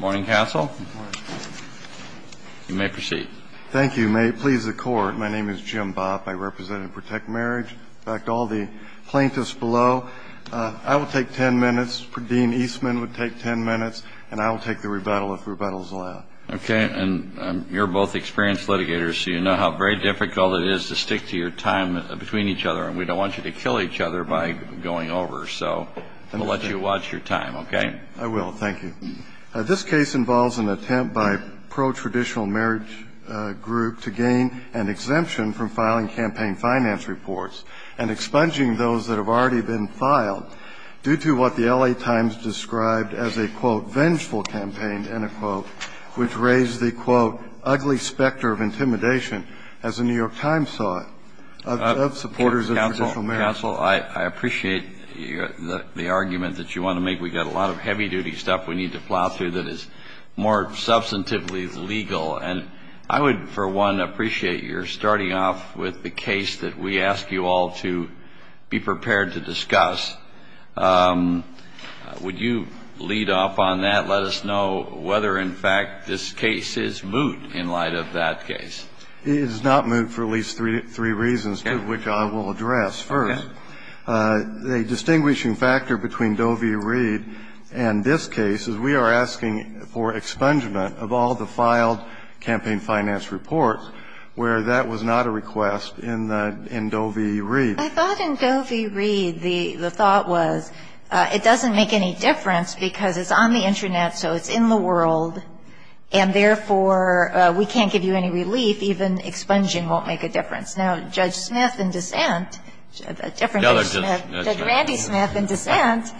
Morning, Castle. You may proceed. Thank you. May it please the Court, my name is Jim Bopp. I represent and protect marriage. In fact, all the plaintiffs below, I will take 10 minutes, Dean Eastman would take 10 minutes, and I will take the rebuttal if rebuttal is allowed. Okay, and you're both experienced litigators, so you know how very difficult it is to stick to your time between each other, and we don't want you to kill each other by going over, so we'll let you watch your time, okay? I will, thank you. This case involves an attempt by a pro-traditional marriage group to gain an exemption from filing campaign finance reports and expunging those that have already been filed due to what the L.A. Times described as a, quote, vengeful campaign, end of quote, which raised the, quote, ugly specter of intimidation, as the New York Times saw it, of supporters of traditional marriage. Counsel, I appreciate the argument that you want to make. We've got a lot of heavy-duty stuff we need to plow through that is more substantively legal. And I would, for one, appreciate your starting off with the case that we ask you all to be prepared to discuss. Would you lead off on that, let us know whether, in fact, this case is moot in light of that case? It is not moot for at least three reasons, two of which I will address first. Okay. The distinguishing factor between Doe v. Reed and this case is we are asking for expungement of all the filed campaign finance reports where that was not a request in Doe v. Reed. I thought in Doe v. Reed the thought was it doesn't make any difference because it's on the Internet, so it's in the world, and therefore we can't give you any relief. Even expunging won't make a difference. Now, Judge Smith in dissent, a different Judge Smith, Judge Randy Smith in dissent,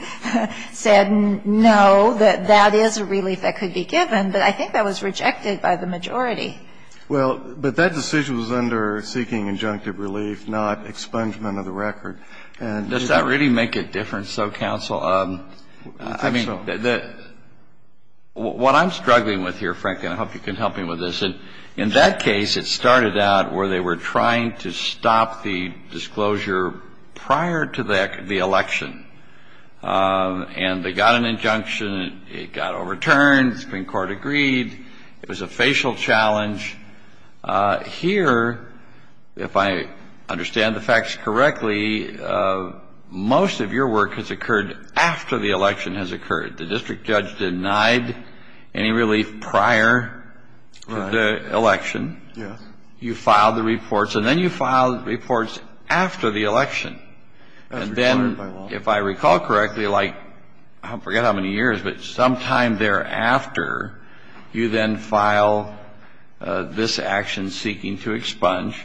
said no, that that is a relief that could be given, but I think that was rejected by the majority. Well, but that decision was under seeking injunctive relief, not expungement of the record. Does that really make a difference, though, counsel? I think so. What I'm struggling with here, Frank, and I hope you can help me with this, in that case it started out where they were trying to stop the disclosure prior to the election, and they got an injunction, it got overturned, the Supreme Court agreed, it was a facial challenge. Here, if I understand the facts correctly, most of your work has occurred after the election has occurred. The district judge denied any relief prior to the election. You filed the reports, and then you filed reports after the election. And then, if I recall correctly, like I forget how many years, but sometime thereafter, you then file this action seeking to expunge,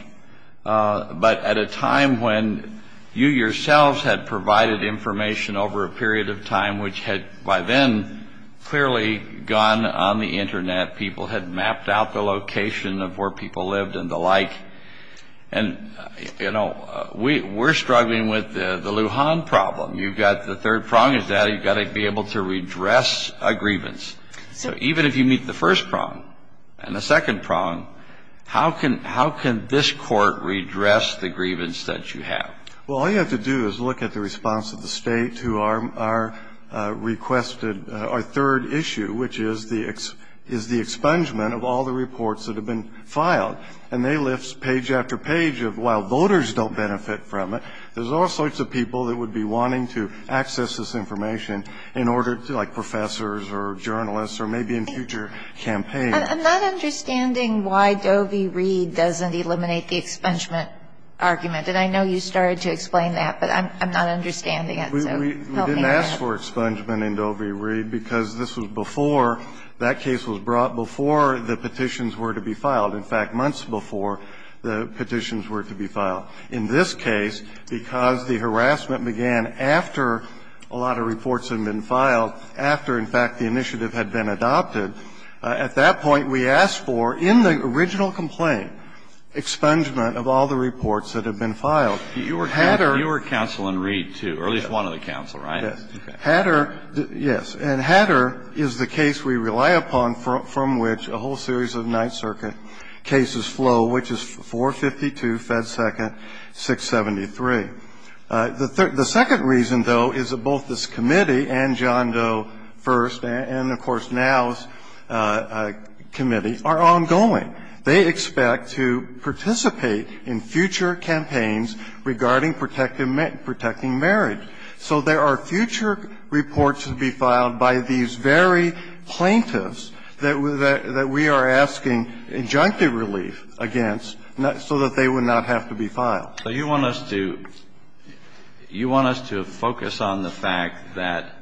but at a time when you yourselves had provided information over a period of time which had by then clearly gone on the Internet, people had mapped out the location of where people lived and the like. And, you know, we're struggling with the Lujan problem. You've got the third prong is that you've got to be able to redress a grievance. So even if you meet the first prong and the second prong, how can this Court redress the grievance that you have? Well, all you have to do is look at the response of the State to our requested or third issue, which is the expungement of all the reports that have been filed. And they lift page after page of while voters don't benefit from it, there's all sorts of people that would be wanting to access this information in order to like professors or journalists or maybe in future campaigns. I'm not understanding why Dovi Reed doesn't eliminate the expungement argument. And I know you started to explain that, but I'm not understanding it. So help me with that. We didn't ask for expungement in Dovi Reed because this was before that case was brought before the petitions were to be filed. In fact, months before the petitions were to be filed. In this case, because the harassment began after a lot of reports had been filed, after, in fact, the initiative had been adopted, at that point we asked for in the original complaint expungement of all the reports that had been filed. Hatterr. You were counsel in Reed, too, or at least one of the counsel, right? Yes. Hatterr, yes. And Hatterr is the case we rely upon from which a whole series of Ninth Circuit cases flow, which is 452, Fed Second, 673. The second reason, though, is that both this committee and John Doe first and, of course, now's committee are ongoing. They expect to participate in future campaigns regarding protecting marriage. So there are future reports to be filed by these very plaintiffs that we are asking injunctive relief against so that they would not have to be filed. So you want us to focus on the fact that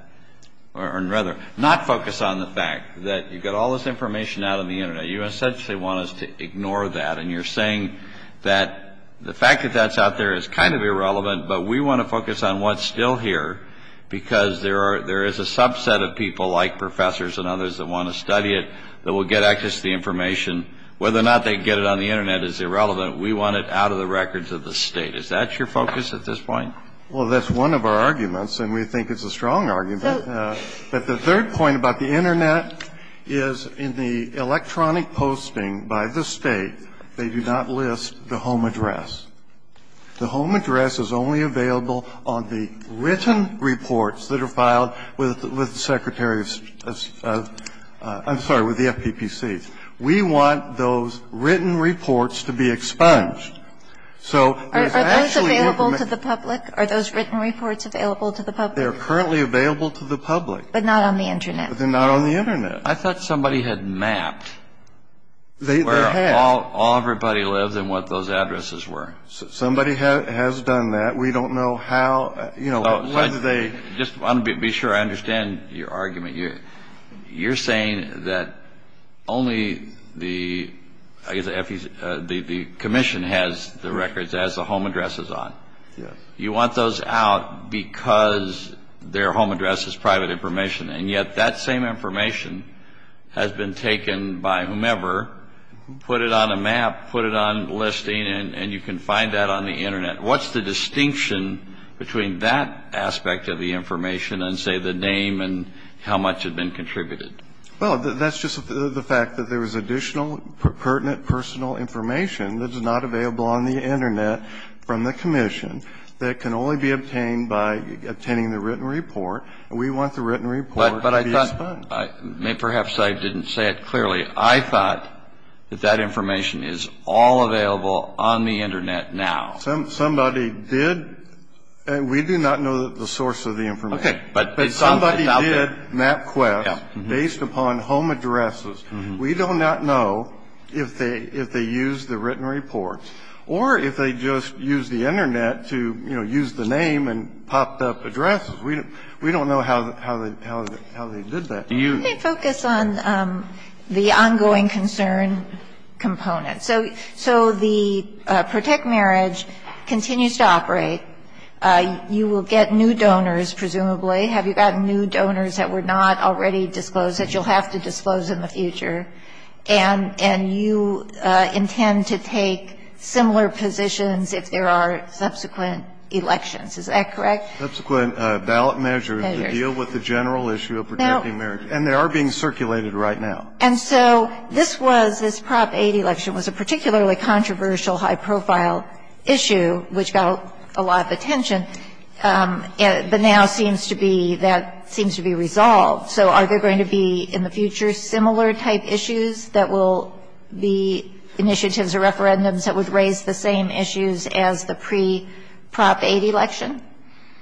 or rather not focus on the fact that you've got all this information out on the Internet. You essentially want us to ignore that, and you're saying that the fact that that's out there is kind of irrelevant, but we want to focus on what's still here because there is a subset of people like professors and others that want to study it that will get access to the information. Whether or not they get it on the Internet is irrelevant. We want it out of the records of the State. Is that your focus at this point? Well, that's one of our arguments, and we think it's a strong argument. But the third point about the Internet is in the electronic posting by the State, they do not list the home address. The home address is only available on the written reports that are filed with the Secretary of State's – I'm sorry, with the FPPC. The State's. We want those written reports to be expunged. So it's actually the information. Are those available to the public? Are those written reports available to the public? They're currently available to the public. But not on the Internet. But they're not on the Internet. I thought somebody had mapped where all – all everybody lives and what those addresses were. Somebody has done that. We don't know how – you know, whether they – I just want to be sure I understand your argument. You're saying that only the – I guess the commission has the records, has the home addresses on. Yes. You want those out because their home address is private information, and yet that same information has been taken by whomever put it on a map, put it on listing, and you can find that on the Internet. What's the distinction between that aspect of the information and, say, the name and how much had been contributed? Well, that's just the fact that there was additional pertinent personal information that is not available on the Internet from the commission that can only be obtained by obtaining the written report. We want the written report to be expunged. But I thought – perhaps I didn't say it clearly. I thought that that information is all available on the Internet now. Somebody did – we do not know the source of the information. Okay. But somebody did MapQuest based upon home addresses. We do not know if they used the written report or if they just used the Internet to, you know, use the name and popped up addresses. We don't know how they did that. Let me focus on the ongoing concern component. So the Protect Marriage continues to operate. You will get new donors, presumably. Have you gotten new donors that were not already disclosed that you'll have to disclose in the future? And you intend to take similar positions if there are subsequent elections. Is that correct? Subsequent ballot measures to deal with the general issue of Protecting Marriage. And they are being circulated right now. And so this was – this Prop 8 election was a particularly controversial, high-profile issue which got a lot of attention. But now seems to be – that seems to be resolved. So are there going to be in the future similar type issues that will be initiatives or referendums that would raise the same issues as the pre-Prop 8 election?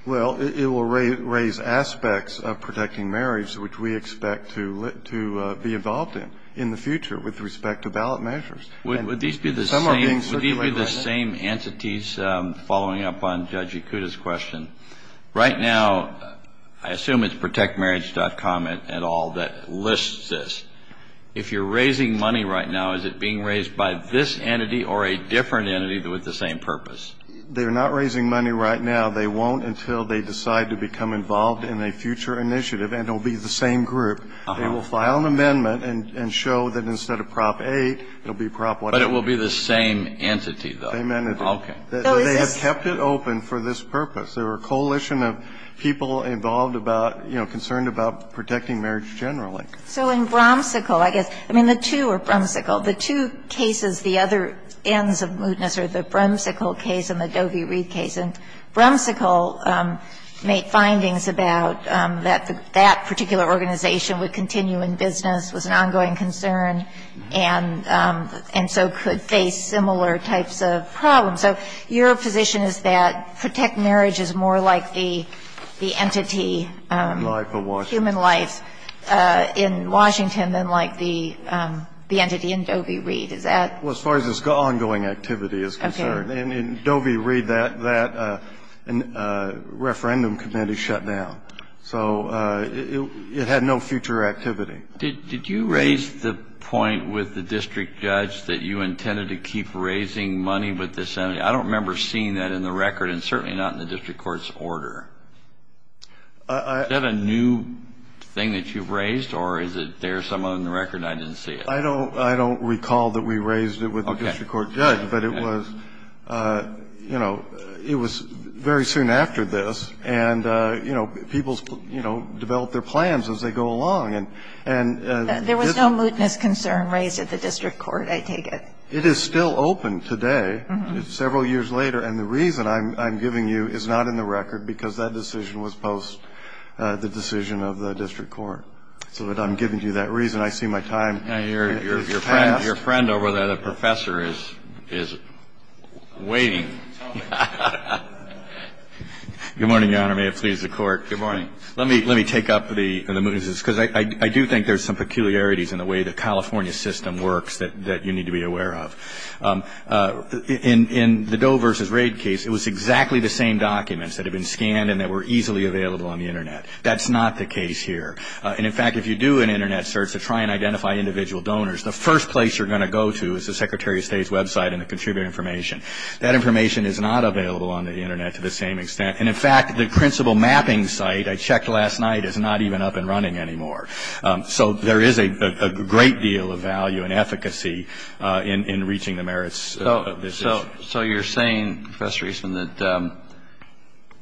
Well, it will raise aspects of Protecting Marriage which we expect to be involved in in the future with respect to ballot measures. Would these be the same entities following up on Judge Ikuda's question? Right now, I assume it's protectmarriage.com et al. that lists this. If you're raising money right now, is it being raised by this entity or a different entity with the same purpose? They're not raising money right now. They won't until they decide to become involved in a future initiative. And it will be the same group. They will file an amendment and show that instead of Prop 8, it will be Prop 1. But it will be the same entity, though. The same entity. Okay. So is this – They have kept it open for this purpose. They're a coalition of people involved about, you know, concerned about Protecting Marriage generally. So in Bromsicle, I guess – I mean, the two are Bromsicle. The two cases, the other ends of mootness are the Bromsicle case and the Doe v. Reed case. And Bromsicle made findings about that that particular organization would continue in business, was an ongoing concern, and so could face similar types of problems. So your position is that Protect Marriage is more like the entity, human life in Washington than like the entity in Doe v. Reed. Is that – Well, as far as this ongoing activity is concerned. In Doe v. Reed, that referendum committee shut down. So it had no future activity. Did you raise the point with the district judge that you intended to keep raising money with this entity? I don't remember seeing that in the record and certainly not in the district court's order. Is that a new thing that you've raised, or is it there somewhere in the record and I didn't see it? I don't recall that we raised it with the district court judge, but it was, you know, it was very soon after this, and, you know, people, you know, developed their plans as they go along. There was no mootness concern raised at the district court, I take it. It is still open today, several years later, and the reason I'm giving you is not in the record because that decision was post the decision of the district court. So I'm giving you that reason. I see my time has passed. Your friend over there, the professor, is waiting. Good morning, Your Honor. May it please the Court. Good morning. Let me take up the mootnesses because I do think there's some peculiarities in the way the California system works that you need to be aware of. In the Doe versus Raid case, it was exactly the same documents that had been scanned and that were easily available on the Internet. That's not the case here. And, in fact, if you do an Internet search to try and identify individual donors, the first place you're going to go to is the Secretary of State's website and the contributor information. That information is not available on the Internet to the same extent. And, in fact, the principal mapping site I checked last night is not even up and running anymore. So there is a great deal of value and efficacy in reaching the merits of this issue. So you're saying, Professor Eastman, that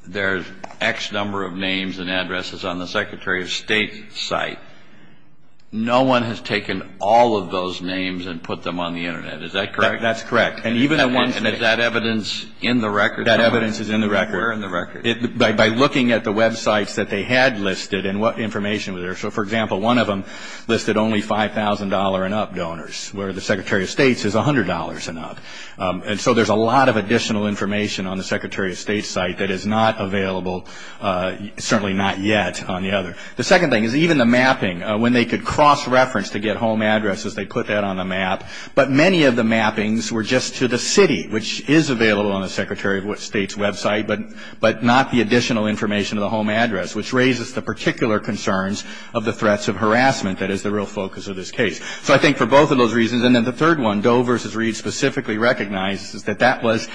there's X number of names and addresses on the Secretary of State's site. No one has taken all of those names and put them on the Internet. Is that correct? That's correct. And is that evidence in the record? That evidence is in the record. Where in the record? By looking at the websites that they had listed and what information was there. So, for example, one of them listed only $5,000 and up donors, where the Secretary of State's is $100 and up. And so there's a lot of additional information on the Secretary of State's site that is not available, certainly not yet, on the other. The second thing is even the mapping. When they could cross-reference to get home addresses, they put that on the map. But many of the mappings were just to the city, which is available on the Secretary of State's website, but not the additional information of the home address, which raises the particular concerns of the threats of harassment that is the real focus of this case. So I think for both of those reasons. And then the third one, Doe v. Reed specifically recognizes that that was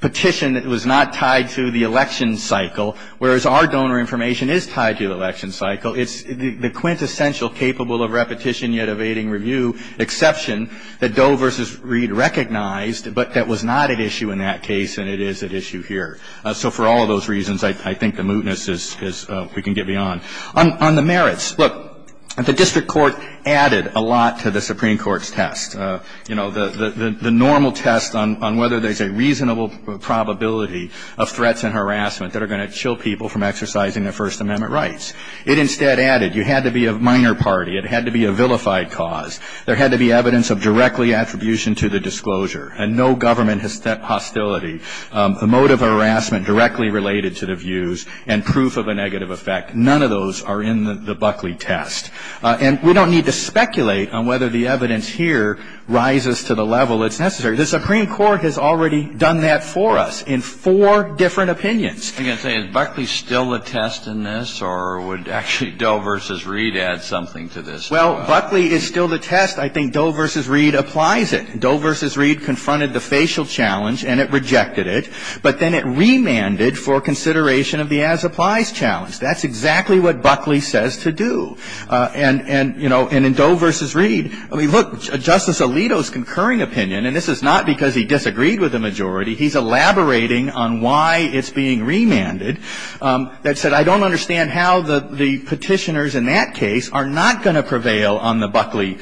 petition that was not tied to the election cycle, whereas our donor information is tied to the election cycle. It's the quintessential capable-of-repetition-yet-evading-review exception that Doe v. Reed recognized, but that was not at issue in that case and it is at issue here. So for all of those reasons, I think the mootness is we can get beyond. On the merits, look, the district court added a lot to the Supreme Court's test. You know, the normal test on whether there's a reasonable probability of threats and harassment that are going to chill people from exercising their First Amendment rights. It instead added you had to be a minor party. It had to be a vilified cause. There had to be evidence of directly attribution to the disclosure and no government hostility. A motive of harassment directly related to the views and proof of a negative effect. None of those are in the Buckley test. And we don't need to speculate on whether the evidence here rises to the level it's necessary. The Supreme Court has already done that for us in four different opinions. I was going to say, is Buckley still a test in this or would actually Doe v. Reed add something to this? Well, Buckley is still the test. I think Doe v. Reed applies it. Doe v. Reed confronted the facial challenge and it rejected it, but then it remanded for consideration of the as-applies challenge. That's exactly what Buckley says to do. And, you know, in Doe v. Reed, I mean, look, Justice Alito's concurring opinion, and this is not because he disagreed with the majority. He's elaborating on why it's being remanded. That said, I don't understand how the Petitioners in that case are not going to prevail on the Buckley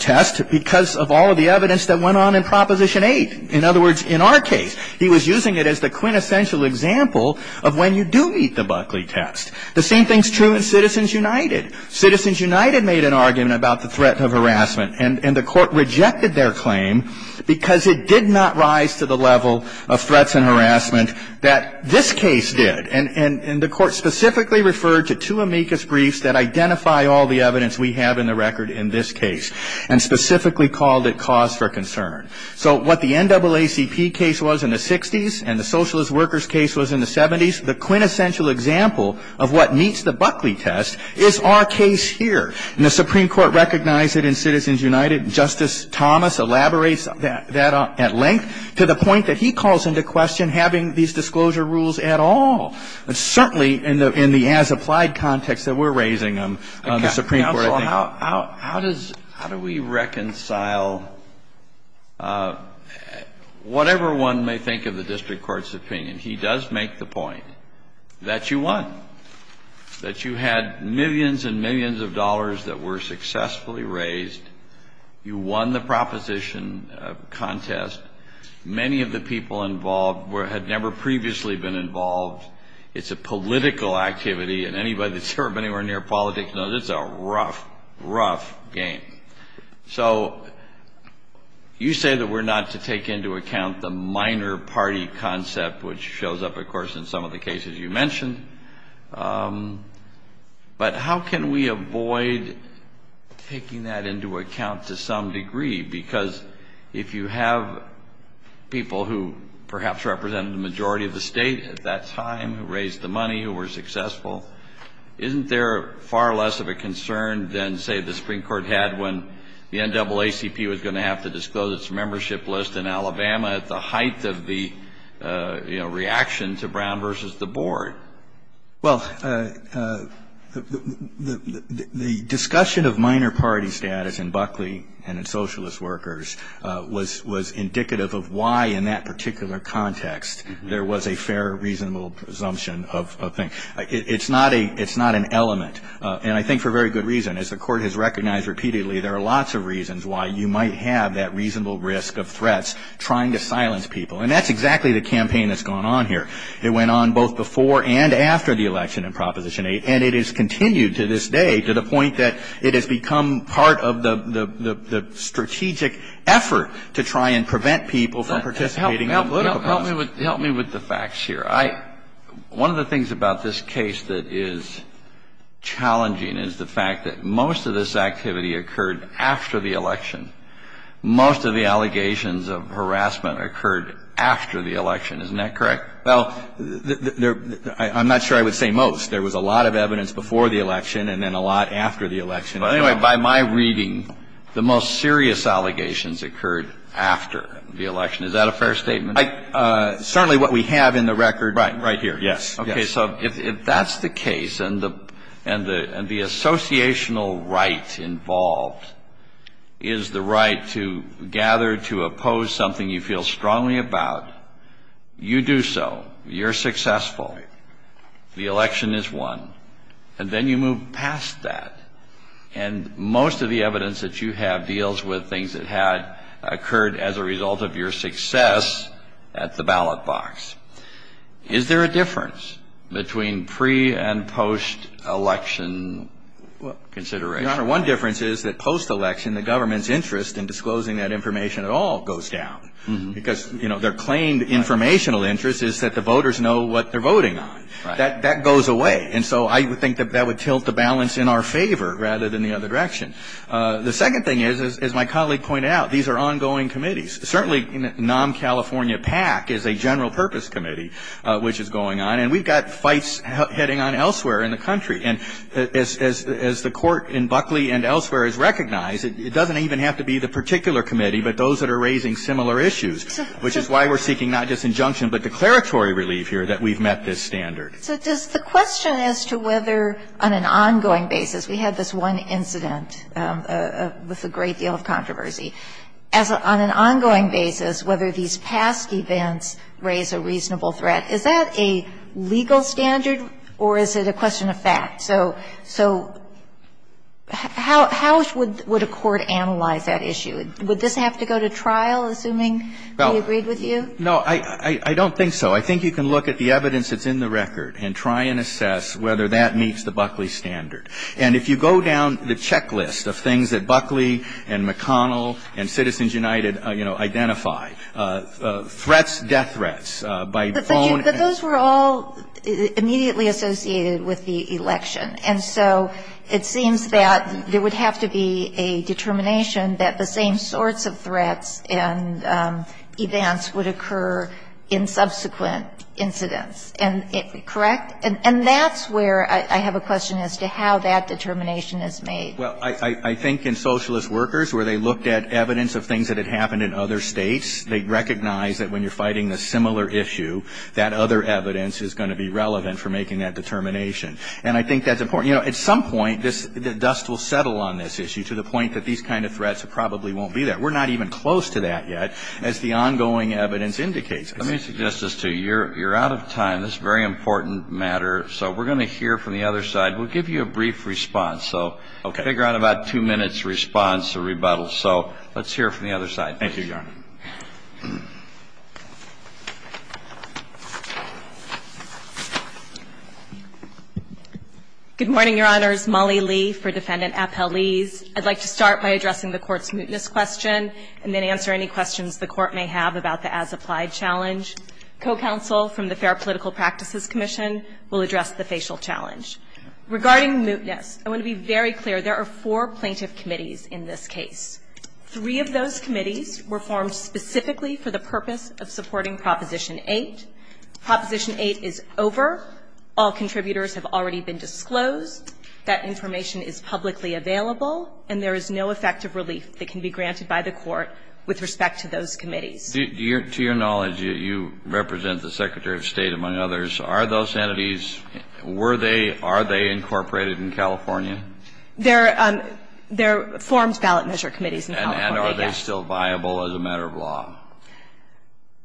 test because of all of the evidence that went on in Proposition 8. In other words, in our case, he was using it as the quintessential example of when you do meet the Buckley test. The same thing is true in Citizens United. Citizens United made an argument about the threat of harassment, and the Court rejected their claim because it did not rise to the level of threats and harassment that this case did. And the Court specifically referred to two amicus briefs that identify all the evidence we have in the record in this case and specifically called it cause for concern. So what the NAACP case was in the 60s and the Socialist Workers case was in the 70s, the quintessential example of what meets the Buckley test is our case here. And the Supreme Court recognized it in Citizens United. Justice Thomas elaborates that at length to the point that he calls into question having these disclosure rules at all, certainly in the as-applied context that we're raising them on the Supreme Court. Counsel, how do we reconcile whatever one may think of the district court's opinion? He does make the point that you won, that you had millions and millions of dollars that were successfully raised. You won the proposition contest. Many of the people involved had never previously been involved. It's a political activity, and anybody that's served anywhere near politics knows it's a rough, rough game. So you say that we're not to take into account the minor party concept, which shows up, of course, in some of the cases you mentioned. But how can we avoid taking that into account to some degree? Because if you have people who perhaps represented the majority of the state at that time, who raised the money, who were successful, isn't there far less of a concern than, say, the Supreme Court had when the NAACP was going to have to disclose its membership list in Alabama at the height of the reaction to Brown versus the board? Well, the discussion of minor party status in Buckley and in socialist workers was indicative of why in that particular context there was a fair, reasonable presumption of things. It's not an element, and I think for very good reason. As the Court has recognized repeatedly, there are lots of reasons why you might have that reasonable risk of threats trying to silence people. And that's exactly the campaign that's gone on here. It went on both before and after the election in Proposition 8, and it has continued to this day to the point that it has become part of the strategic effort to try and prevent people from participating in the political process. Help me with the facts here. One of the things about this case that is challenging is the fact that most of this activity occurred after the election. Most of the allegations of harassment occurred after the election. Isn't that correct? Well, I'm not sure I would say most. There was a lot of evidence before the election and then a lot after the election. Anyway, by my reading, the most serious allegations occurred after the election. Is that a fair statement? Certainly what we have in the record right here. Right. Yes. Okay. So if that's the case and the associational right involved is the right to gather to oppose something you feel strongly about, you do so. You're successful. The election is won. And then you move past that. And most of the evidence that you have deals with things that had occurred as a result of your success at the ballot box. Is there a difference between pre- and post-election consideration? Your Honor, one difference is that post-election the government's interest in disclosing that information at all goes down. Because, you know, their claimed informational interest is that the voters know what they're voting on. Right. That goes away. And so I think that that would tilt the balance in our favor rather than the other direction. The second thing is, as my colleague pointed out, these are ongoing committees. Certainly NOM California PAC is a general purpose committee which is going on. And we've got fights heading on elsewhere in the country. And as the Court in Buckley and elsewhere has recognized, it doesn't even have to be the particular committee, but those that are raising similar issues, which is why we're seeking not just injunction but declaratory relief here that we've met this standard. So does the question as to whether on an ongoing basis, we had this one incident with a great deal of controversy, as on an ongoing basis whether these past events raise a reasonable threat, is that a legal standard or is it a question of fact? So how would a court analyze that issue? Would this have to go to trial, assuming we agreed with you? No. I don't think so. I think you can look at the evidence that's in the record and try and assess whether that meets the Buckley standard. And if you go down the checklist of things that Buckley and McConnell and Citizens United, you know, identify, threats, death threats, by phone. But those were all immediately associated with the election. And so it seems that there would have to be a determination that the same sorts of threats and events would occur in subsequent incidents, correct? And that's where I have a question as to how that determination is made. Well, I think in Socialist Workers, where they looked at evidence of things that happened in other states, they recognize that when you're fighting a similar issue, that other evidence is going to be relevant for making that determination. And I think that's important. You know, at some point, dust will settle on this issue to the point that these kind of threats probably won't be there. We're not even close to that yet, as the ongoing evidence indicates. Let me suggest this to you. You're out of time. This is a very important matter. So we're going to hear from the other side. We'll give you a brief response. So figure out about two minutes response to rebuttal. So let's hear from the other side. Thank you, Your Honor. Good morning, Your Honors. Molly Lee for Defendant Appel-Leese. I'd like to start by addressing the Court's mootness question and then answer any questions the Court may have about the as-applied challenge. Co-counsel from the Fair Political Practices Commission will address the facial challenge. Regarding mootness, I want to be very clear. There are four plaintiff committees in this case. Three of those committees were formed specifically for the purpose of supporting Proposition 8. Proposition 8 is over. All contributors have already been disclosed. That information is publicly available, and there is no effective relief that can be granted by the Court with respect to those committees. To your knowledge, you represent the Secretary of State, among others. Are those entities, were they, are they incorporated in California? They're formed ballot measure committees in California, yes. And are they still viable as a matter of law?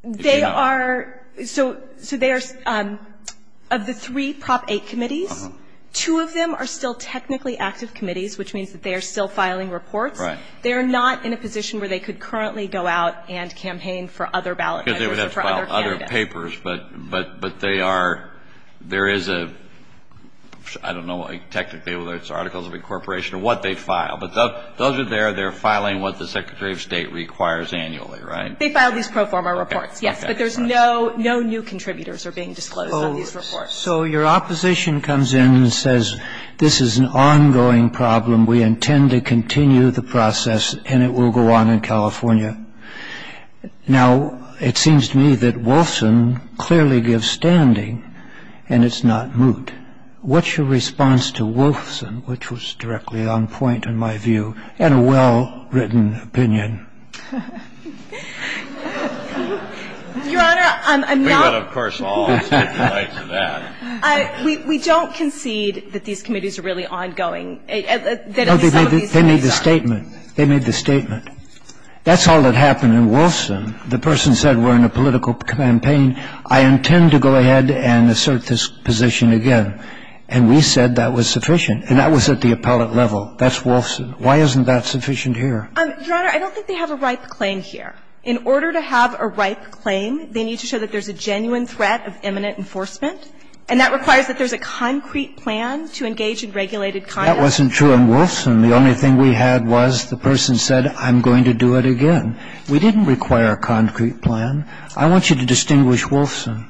They are. So they are, of the three Prop 8 committees, two of them are still technically active committees, which means that they are still filing reports. Right. They are not in a position where they could currently go out and campaign for other ballot measures for other candidates. Because they would have to file other papers, but they are, there is a, I don't know technically whether it's articles of incorporation or what they file. But those are there. They're filing what the Secretary of State requires annually, right? They file these pro forma reports, yes. But there's no, no new contributors are being disclosed on these reports. So your opposition comes in and says this is an ongoing problem. We intend to continue the process, and it will go on in California. Now, it seems to me that Wolfson clearly gives standing and it's not moot. And what's your response to Wolfson, which was directly on point in my view, and a well-written opinion? Your Honor, I'm not. We don't concede that these committees are really ongoing. No, they made the statement. They made the statement. That's all that happened in Wolfson. The person said we're in a political campaign. I intend to go ahead and assert this position again. And we said that was sufficient. And that was at the appellate level. That's Wolfson. Why isn't that sufficient here? Your Honor, I don't think they have a ripe claim here. In order to have a ripe claim, they need to show that there's a genuine threat of imminent enforcement, and that requires that there's a concrete plan to engage in regulated conduct. That wasn't true in Wolfson. The only thing we had was the person said I'm going to do it again. We didn't require a concrete plan. I want you to distinguish Wolfson.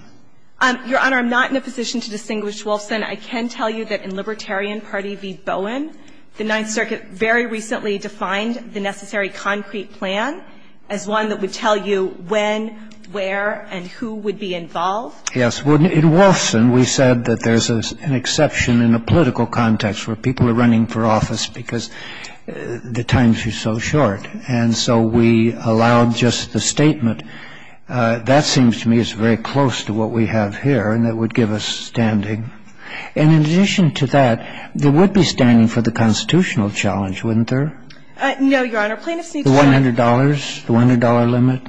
Your Honor, I'm not in a position to distinguish Wolfson. I can tell you that in Libertarian Party v. Bowen, the Ninth Circuit very recently defined the necessary concrete plan as one that would tell you when, where, and who would be involved. Yes. In Wolfson, we said that there's an exception in a political context where people are running for office because the times are so short. And so we allowed just the statement. That seems to me is very close to what we have here, and that would give us standing. And in addition to that, there would be standing for the constitutional challenge, wouldn't there? No, Your Honor. Plaintiffs need to show. The $100? The $100 limit?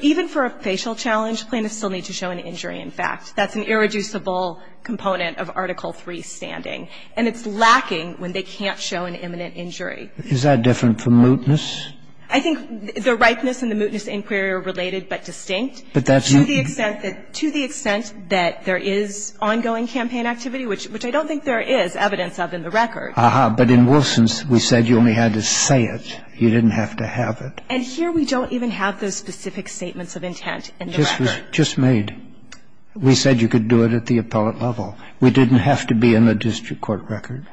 Even for a facial challenge, plaintiffs still need to show an injury. In fact, that's an irreducible component of Article III standing. And it's lacking when they can't show an imminent injury. Is that different from mootness? I think the ripeness and the mootness inquiry are related but distinct. But that's mootness. To the extent that there is ongoing campaign activity, which I don't think there is evidence of in the record. Aha. But in Wolfson's, we said you only had to say it. You didn't have to have it. And here we don't even have those specific statements of intent in the record. Just made. We said you could do it at the appellate level. We didn't have to be in the district court record.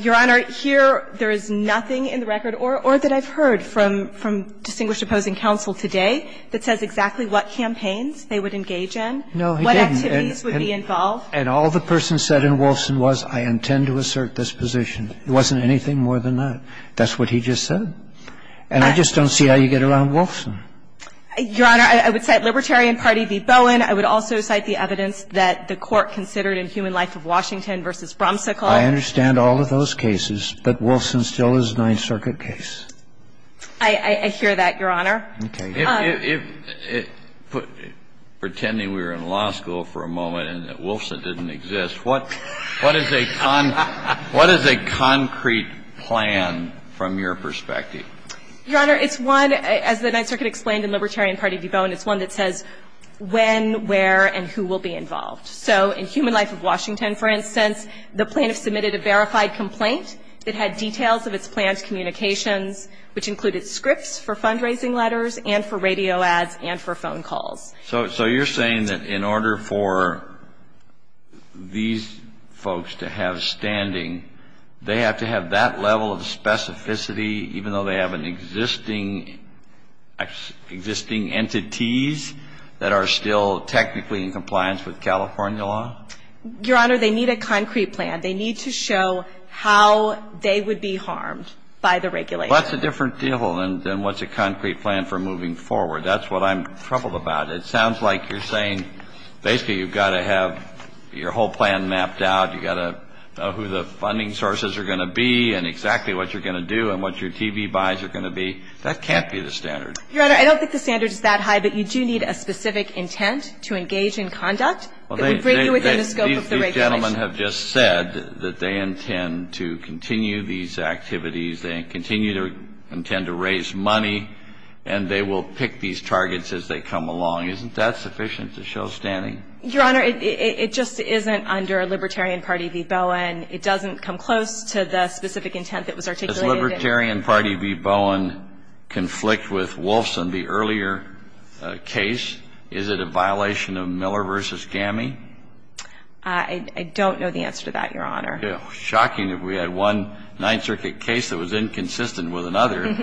Your Honor, here there is nothing in the record or that I've heard from distinguished opposing counsel today that says exactly what campaigns they would engage in, what No, he didn't. And all the person said in Wolfson was, I intend to assert this position. It wasn't anything more than that. That's what he just said. And I just don't see how you get around Wolfson. Your Honor, I would cite Libertarian Party v. Bowen. I would also cite the evidence that the Court considered in Human Life of Washington v. Bromsicle. I understand all of those cases, but Wolfson still is a Ninth Circuit case. I hear that, Your Honor. Okay. If, pretending we were in law school for a moment and that Wolfson didn't exist, what is a concrete plan from your perspective? Your Honor, it's one, as the Ninth Circuit explained in Libertarian Party v. Bowen, it's one that says when, where, and who will be involved. So in Human Life of Washington, for instance, the plaintiff submitted a verified complaint that had details of its plan's communications, which included scripts for fundraising letters and for radio ads and for phone calls. So you're saying that in order for these folks to have standing, they have to have that level of specificity, even though they have an existing entities that are still technically in compliance with California law? Your Honor, they need a concrete plan. They need to show how they would be harmed by the regulation. Well, that's a different deal than what's a concrete plan for moving forward. That's what I'm troubled about. It sounds like you're saying basically you've got to have your whole plan mapped out, you've got to know who the funding sources are going to be and exactly what you're going to do and what your TV buys are going to be. That can't be the standard. Your Honor, I don't think the standard is that high, but you do need a specific intent to engage in conduct that would bring you within the scope of the regulation. Well, these gentlemen have just said that they intend to continue these activities, they continue to intend to raise money, and they will pick these targets as they come along. Isn't that sufficient to show standing? Your Honor, it just isn't under Libertarian Party v. Bowen. It doesn't come close to the specific intent that was articulated. Does Libertarian Party v. Bowen conflict with Wolfson, the earlier case? Is it a violation of Miller v. Gammey? I don't know the answer to that, Your Honor. Shocking that we had one Ninth Circuit case that was inconsistent with another.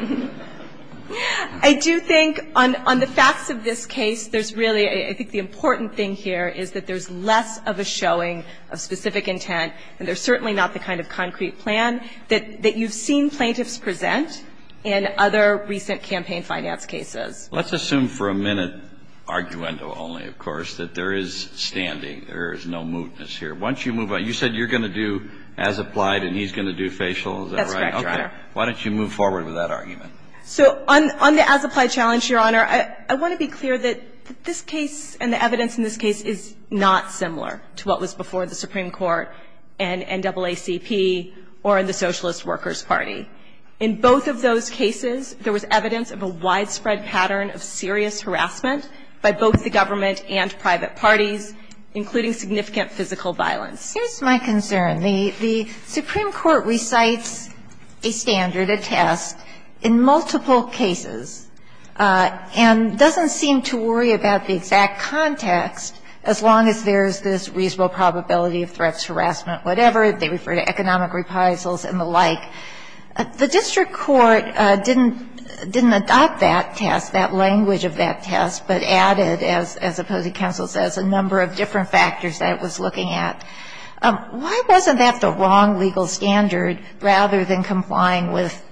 I do think on the facts of this case, there's really, I think the important thing here is that there's less of a showing of specific intent, and there's certainly not the kind of concrete plan that you've seen plaintiffs present in other recent campaign finance cases. Let's assume for a minute, arguendo only, of course, that there is standing. There is no mootness here. Once you move on, you said you're going to do as applied and he's going to do facial. Is that right? That's correct, Your Honor. Why don't you move forward with that argument? So on the as applied challenge, Your Honor, I want to be clear that this case and the evidence in this case is not similar to what was before the Supreme Court and NAACP or in the Socialist Workers Party. In both of those cases, there was evidence of a widespread pattern of serious harassment by both the government and private parties, including significant physical violence. Here's my concern. The Supreme Court recites a standard, a test, in multiple cases and doesn't seem to worry about the exact context as long as there's this reasonable probability of threats, harassment, whatever. They refer to economic reprisals and the like. The district court didn't adopt that test, that language of that test, but added, as opposing counsel says, a number of different factors that it was looking at. Why wasn't that the wrong legal standard rather than complying with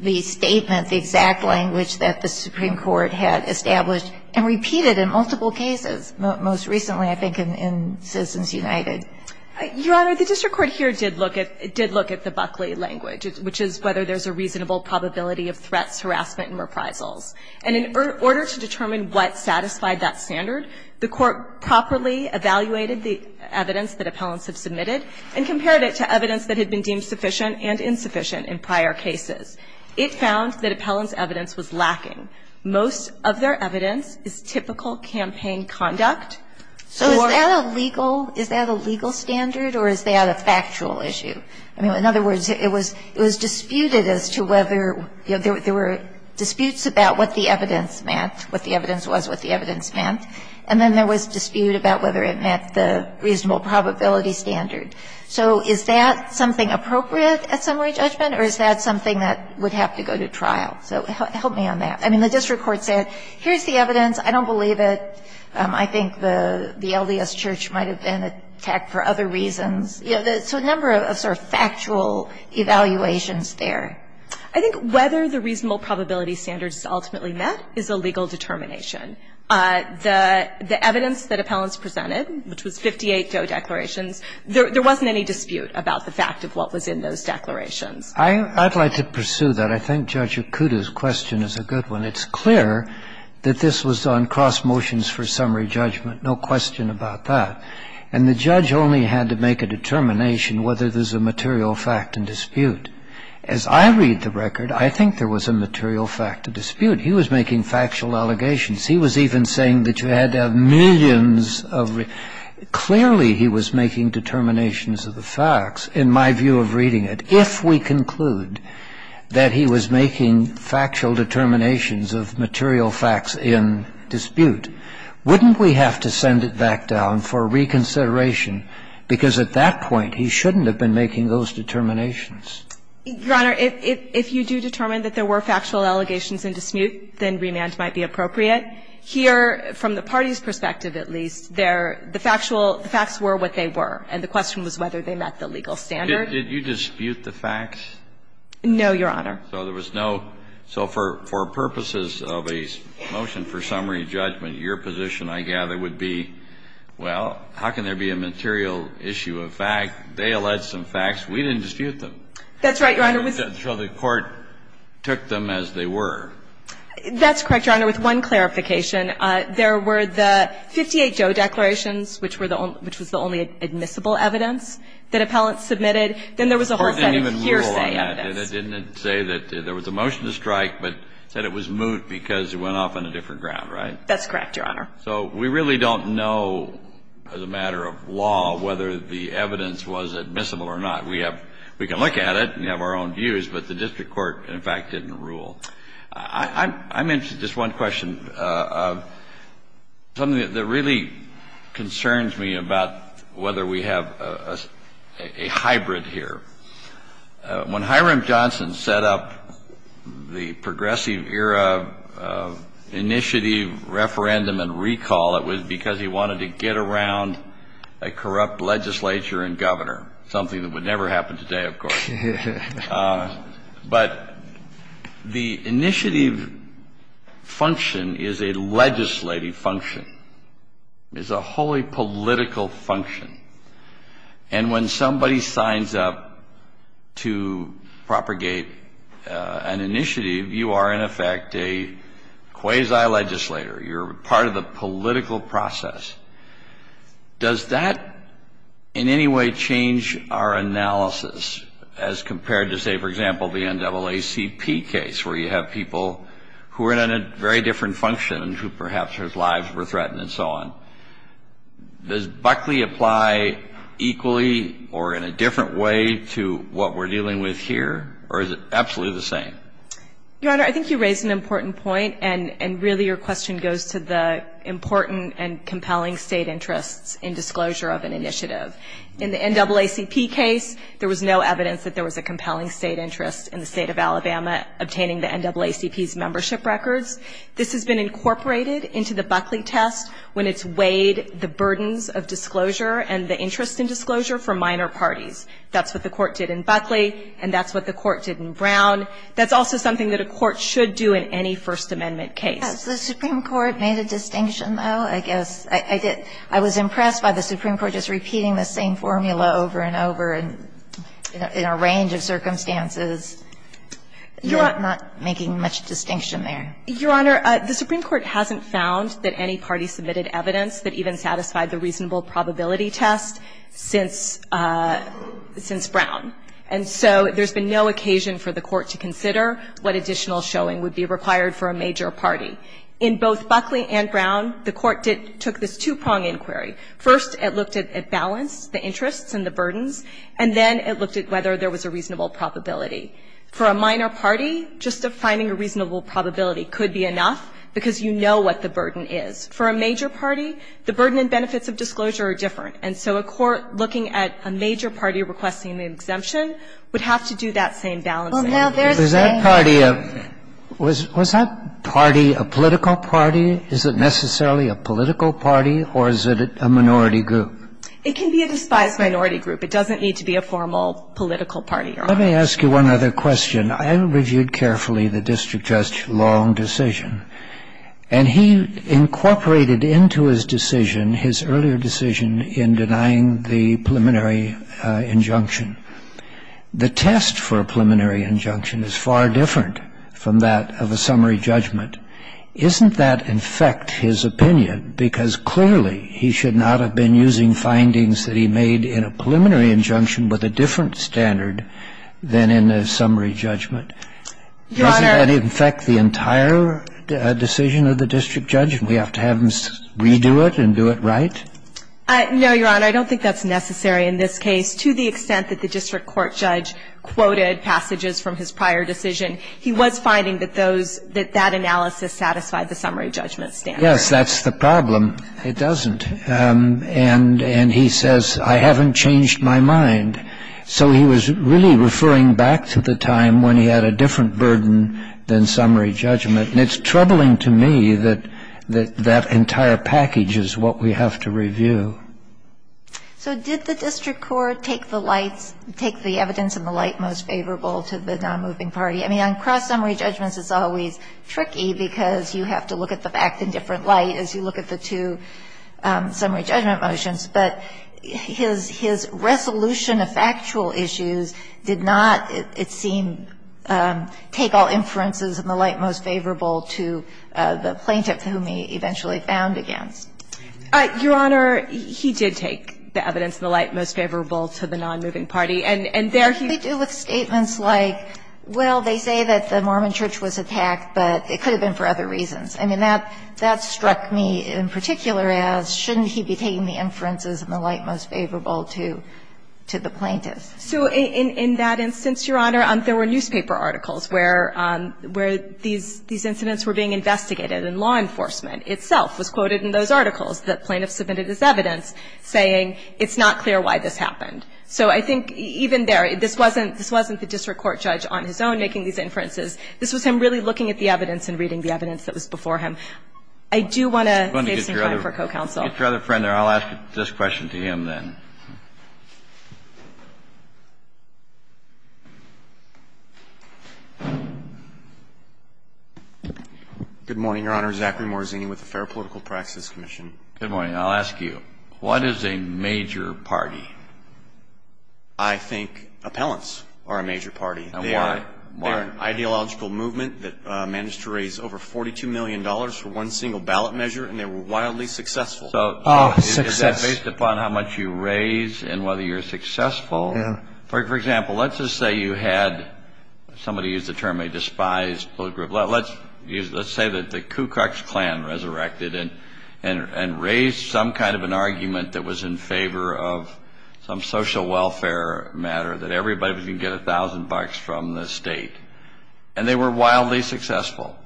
the statement, the exact language that the Supreme Court had established and repeated in multiple cases, most recently, I think, in Citizens United? Your Honor, the district court here did look at the Buckley language, which is whether there's a reasonable probability of threats, harassment, and reprisals. And in order to determine what satisfied that standard, the Court properly evaluated the evidence that appellants have submitted and compared it to evidence that had been deemed sufficient and insufficient in prior cases. It found that appellants' evidence was lacking. Most of their evidence is typical campaign conduct. So is that a legal standard or is that a factual issue? I mean, in other words, it was disputed as to whether there were disputes about what the evidence meant, what the evidence was, what the evidence meant, and then there was dispute about whether it met the reasonable probability standard. So is that something appropriate at summary judgment or is that something that would have to go to trial? So help me on that. I mean, the district court said, here's the evidence. I don't believe it. I think the LDS Church might have been attacked for other reasons. You know, so a number of sort of factual evaluations there. I think whether the reasonable probability standard is ultimately met is a legal determination. The evidence that appellants presented, which was 58 DOE declarations, there wasn't any dispute about the fact of what was in those declarations. I'd like to pursue that. I think Judge Akuta's question is a good one. It's clear that this was on cross motions for summary judgment. No question about that. And the judge only had to make a determination whether there's a material fact in dispute. As I read the record, I think there was a material fact of dispute. He was making factual allegations. He was even saying that you had to have millions of reasons. Clearly, he was making determinations of the facts, in my view of reading it, if we were to conclude that he was making factual determinations of material facts in dispute, wouldn't we have to send it back down for reconsideration? Because at that point, he shouldn't have been making those determinations. Your Honor, if you do determine that there were factual allegations in dispute, then remand might be appropriate. Here, from the party's perspective at least, the factual facts were what they were. And the question was whether they met the legal standard. Kennedy, did you dispute the facts? No, Your Honor. So there was no. So for purposes of a motion for summary judgment, your position, I gather, would be, well, how can there be a material issue of fact? They allege some facts. We didn't dispute them. That's right, Your Honor. So the court took them as they were. That's correct, Your Honor. With one clarification, there were the 58 Joe declarations, which were the only admissible evidence that appellants submitted. Then there was a whole set of hearsay evidence. Court didn't even rule on that. It didn't say that there was a motion to strike, but said it was moot because it went off on a different ground, right? That's correct, Your Honor. So we really don't know as a matter of law whether the evidence was admissible or not. We have we can look at it and have our own views, but the district court, in fact, didn't rule. I'm interested in just one question, something that really concerns me about whether we have a hybrid here. When Hiram Johnson set up the progressive era initiative referendum and recall, it was because he wanted to get around a corrupt legislature and governor, something that would never happen today, of course. But the initiative function is a legislative function. It's a wholly political function. And when somebody signs up to propagate an initiative, you are, in effect, a quasi-legislator. You're part of the political process. Does that in any way change our analysis as compared to, say, for example, the NAACP case where you have people who are in a very different function and who perhaps their lives were threatened and so on? Does Buckley apply equally or in a different way to what we're dealing with here, or is it absolutely the same? Your Honor, I think you raise an important point, and really your question goes to the important and compelling state interests in disclosure of an initiative. In the NAACP case, there was no evidence that there was a compelling state interest in the state of Alabama obtaining the NAACP's membership records. This has been incorporated into the Buckley test when it's weighed the burdens of disclosure and the interest in disclosure for minor parties. That's what the court did in Buckley, and that's what the court did in Brown. That's also something that a court should do in any First Amendment case. Has the Supreme Court made a distinction, though, I guess? I was impressed by the Supreme Court just repeating the same formula over and over in a range of circumstances, not making much distinction there. Your Honor, the Supreme Court hasn't found that any party submitted evidence that even satisfied the reasonable probability test since Brown. And so there's been no occasion for the court to consider what additional showing would be required for a major party. In both Buckley and Brown, the court took this two-prong inquiry. First, it looked at balance, the interests and the burdens, and then it looked at whether there was a reasonable probability. For a minor party, just defining a reasonable probability could be enough because you know what the burden is. For a major party, the burden and benefits of disclosure are different. And so a court looking at a major party requesting the exemption would have to do that same balancing. Now, there's a question. Was that party a political party? Is it necessarily a political party, or is it a minority group? It can be a despised minority group. It doesn't need to be a formal political party, Your Honor. Let me ask you one other question. I reviewed carefully the district judge's long decision, and he incorporated into his decision, his earlier decision, in denying the preliminary injunction. The test for a preliminary injunction is far different from that of a summary judgment. Isn't that in effect his opinion, because clearly he should not have been using findings that he made in a preliminary injunction with a different standard than in a summary judgment? Doesn't that in effect the entire decision of the district judge, and we have to have him redo it and do it right? No, Your Honor. I don't think that's necessary in this case. To the extent that the district court judge quoted passages from his prior decision, he was finding that those – that that analysis satisfied the summary judgment standard. Yes, that's the problem. It doesn't. And he says, I haven't changed my mind. So he was really referring back to the time when he had a different burden than summary judgment, and it's troubling to me that that entire package is what we have to review. So did the district court take the lights – take the evidence in the light most favorable to the nonmoving party? I mean, on cross-summary judgments, it's always tricky because you have to look at the fact in different light as you look at the two summary judgment motions, but his resolution of factual issues did not, it seemed, take all inferences in the light most favorable to the plaintiff whom he eventually found against. Your Honor, he did take the evidence in the light most favorable to the nonmoving party, and there he – What do we do with statements like, well, they say that the Mormon Church was attacked, but it could have been for other reasons? I mean, that struck me in particular as, shouldn't he be taking the inferences in the light most favorable to the plaintiff? So in that instance, Your Honor, there were newspaper articles where these incidents were being investigated, and law enforcement itself was quoted in those articles that plaintiffs submitted as evidence, saying it's not clear why this happened. So I think even there, this wasn't the district court judge on his own making these inferences. This was him really looking at the evidence and reading the evidence that was before him. I do want to save some time for co-counsel. Get your other friend there. I'll ask this question to him then. Good morning, Your Honor. Zachary Morazzini with the Fair Political Practices Commission. Good morning. I'll ask you, what is a major party? I think appellants are a major party. And why? They are an ideological movement that managed to raise over $42 million for one single ballot measure, and they were wildly successful. Oh, success. Based upon how much you raise and whether you're successful. Yeah. For example, let's just say you had, somebody used the term a despised political group. Let's say that the Ku Klux Klan resurrected and raised some kind of an argument that was in favor of some social welfare matter, that everybody was going to get $1,000 from the state. And they were wildly successful.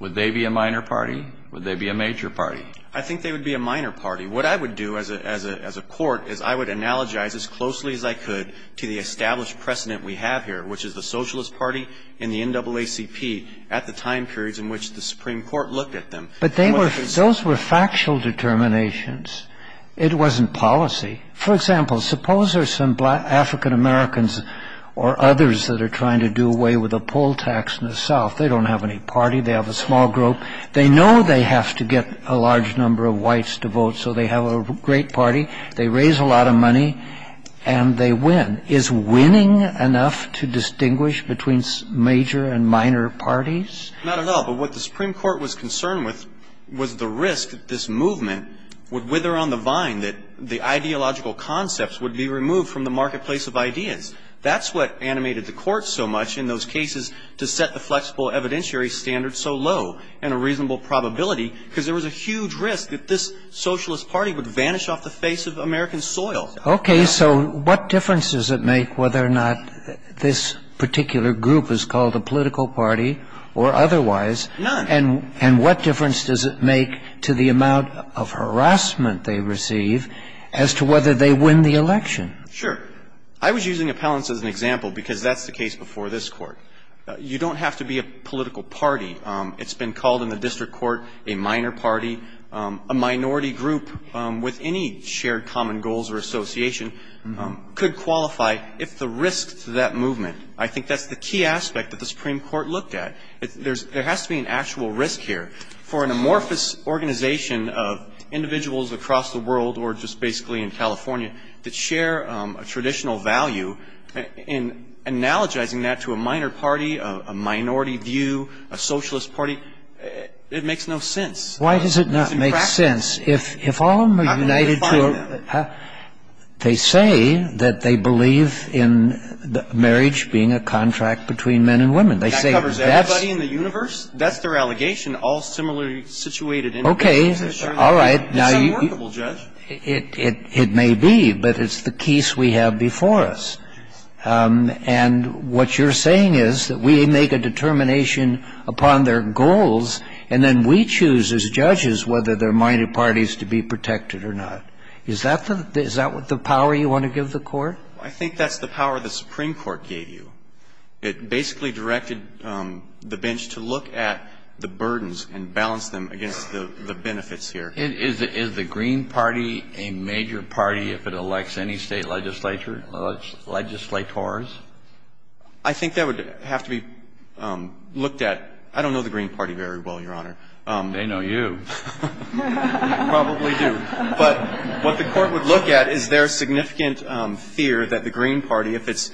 Would they be a minor party? Would they be a major party? I think they would be a minor party. What I would do as a court is I would analogize as closely as I could to the established precedent we have here, which is the Socialist Party and the NAACP at the time periods in which the Supreme Court looked at them. But those were factual determinations. It wasn't policy. For example, suppose there are some African Americans or others that are trying to do away with a poll tax in the South. They don't have any party. They have a small group. They know they have to get a large number of whites to vote, so they have a great party. They raise a lot of money, and they win. Is winning enough to distinguish between major and minor parties? Not at all. But what the Supreme Court was concerned with was the risk that this movement would wither on the vine, that the ideological concepts would be removed from the marketplace of ideas. That's what animated the Court so much in those cases to set the flexible evidentiary standards so low and a reasonable probability, because there was a huge risk that this Socialist Party would vanish off the face of American soil. Okay. So what difference does it make whether or not this particular group is called a political party or otherwise? None. And what difference does it make to the amount of harassment they receive as to whether they win the election? Sure. I was using appellants as an example because that's the case before this Court. You don't have to be a political party. It's been called in the district court a minor party. A minority group with any shared common goals or association could qualify if the risk to that movement. I think that's the key aspect that the Supreme Court looked at. There has to be an actual risk here. For an amorphous organization of individuals across the world or just basically in a minority view, a Socialist Party, it makes no sense. Why does it not make sense? If all of them are united to a... They say that they believe in marriage being a contract between men and women. That covers everybody in the universe? That's their allegation, all similarly situated individuals. Okay. All right. It's unworkable, Judge. It may be, but it's the case we have before us. And what you're saying is that we make a determination upon their goals and then we choose as judges whether they're minority parties to be protected or not. Is that the power you want to give the Court? I think that's the power the Supreme Court gave you. It basically directed the bench to look at the burdens and balance them against the benefits here. Is the Green Party a major party if it elects any state legislature, legislators? I think that would have to be looked at. I don't know the Green Party very well, Your Honor. They know you. You probably do. But what the Court would look at, is there a significant fear that the Green Party, if its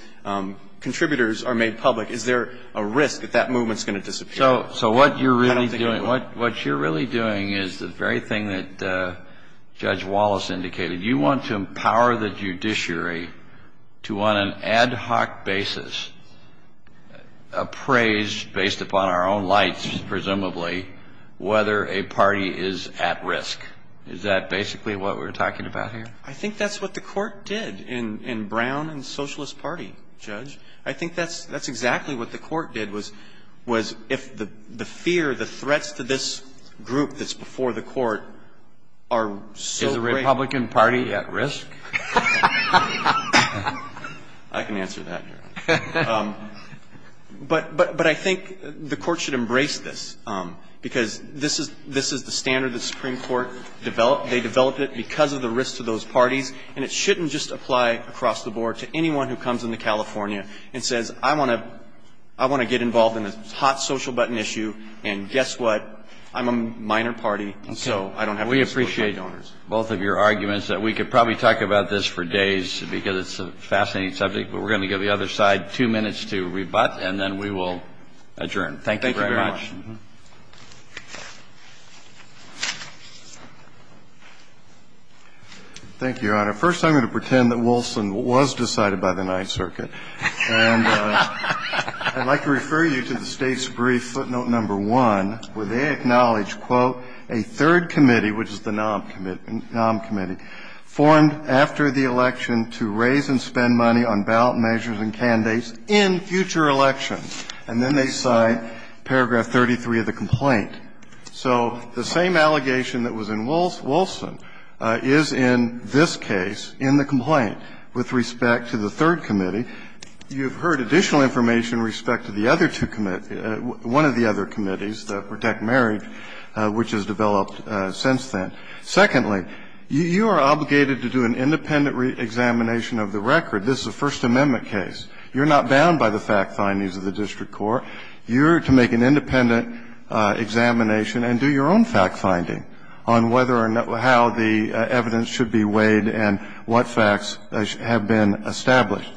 contributors are made public, is there a risk that that movement is going to disappear? So what you're really doing is the very thing that Judge Wallace indicated. You want to empower the judiciary to, on an ad hoc basis, appraise, based upon our own lights, presumably, whether a party is at risk. Is that basically what we're talking about here? I think that's what the Court did in Brown and Socialist Party, Judge. I think that's exactly what the Court did, was if the fear, the threats to this group that's before the Court are so great. Is the Republican Party at risk? I can answer that, Your Honor. But I think the Court should embrace this, because this is the standard the Supreme Court developed. They developed it because of the risk to those parties, and it shouldn't just apply across the board to anyone who comes into California and says, I want to get involved in this hot social button issue, and guess what? I'm a minor party, and so I don't have to disclose my donors. We appreciate both of your arguments. We could probably talk about this for days, because it's a fascinating subject. But we're going to give the other side two minutes to rebut, and then we will adjourn. Thank you very much. Thank you very much. Thank you, Your Honor. First, I'm going to pretend that Wilson was decided by the Ninth Circuit. And I'd like to refer you to the State's brief footnote number 1, where they acknowledge, quote, a third committee, which is the NOM committee, formed after the election to raise and spend money on ballot measures and candidates in future elections. And then they cite paragraph 33 of the complaint. So the same allegation that was in Wilson is in this case in the complaint with respect to the third committee. You've heard additional information with respect to the other two committees one of the other committees, the Protect Marriage, which has developed since then. Secondly, you are obligated to do an independent examination of the record. This is a First Amendment case. You're not bound by the fact findings of the district court. You're to make an independent examination and do your own fact finding on whether or not how the evidence should be weighed and what facts have been established.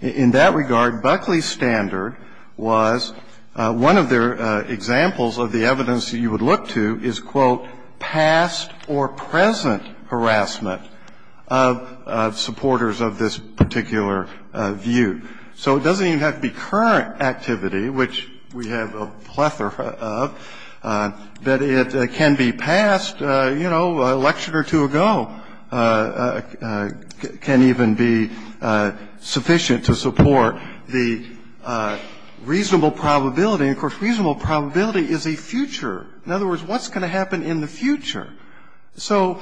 In that regard, Buckley's standard was one of the examples of the evidence you would look to is, quote, past or present harassment of supporters of this particular view. So it doesn't even have to be current activity, which we have a plethora of, that it can be past, you know, an election or two ago. It can even be sufficient to support the reasonable probability. And, of course, reasonable probability is a future. In other words, what's going to happen in the future? So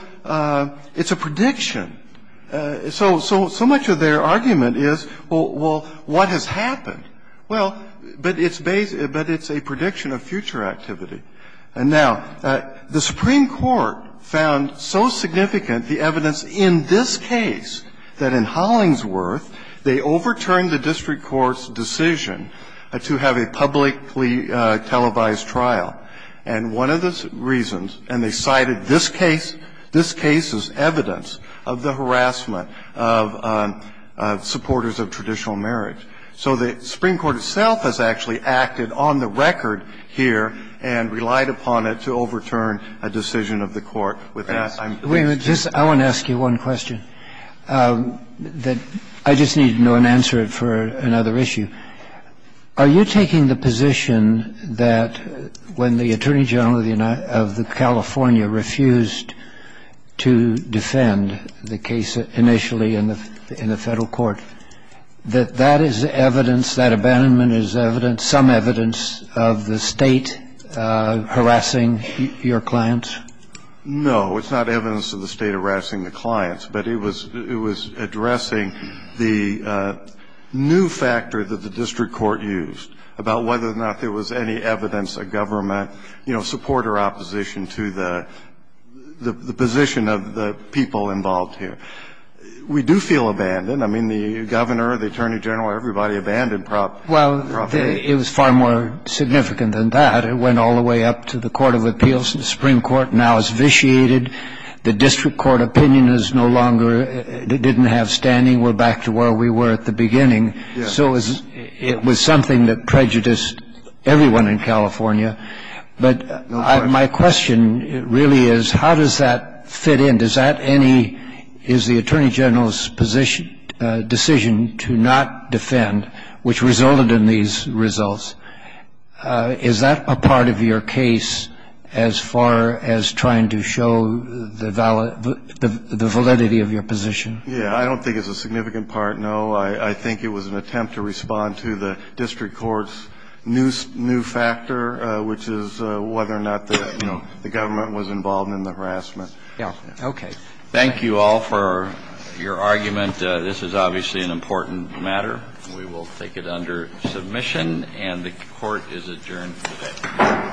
it's a prediction. So much of their argument is, well, what has happened? Well, but it's a prediction of future activity. And now, the Supreme Court found so significant the evidence in this case that in Hollingsworth, they overturned the district court's decision to have a publicly televised trial. And one of the reasons, and they cited this case, this case is evidence of the harassment of supporters of traditional marriage. So the Supreme Court itself has actually acted on the record here and relied upon it to overturn a decision of the court. With that, I'm going to just ask you one question that I just need to know and answer it for another issue. Are you taking the position that when the Attorney General of the California refused to defend the case initially in the Federal Court, that that is evidence, that abandonment is evidence, some evidence of the State harassing your clients? No, it's not evidence of the State harassing the clients, but it was addressing the new factor that the district court used about whether or not there was any evidence of government, you know, support or opposition to the position of the people involved here. We do feel abandoned. I mean, the Governor, the Attorney General, everybody abandoned properly. Well, it was far more significant than that. It went all the way up to the Court of Appeals. The Supreme Court now has vitiated. The district court opinion is no longer, didn't have standing. We're back to where we were at the beginning. So it was something that prejudiced everyone in California. But my question really is, how does that fit in? Does that any, is the Attorney General's position, decision to not defend, which resulted in these results, is that a part of your case as far as trying to show the validity of your position? Yeah, I don't think it's a significant part, no. I think it was an attempt to respond to the district court's new factor, which is whether or not the government was involved in the harassment. Yeah, okay. Thank you all for your argument. This is obviously an important matter. We will take it under submission, and the Court is adjourned today.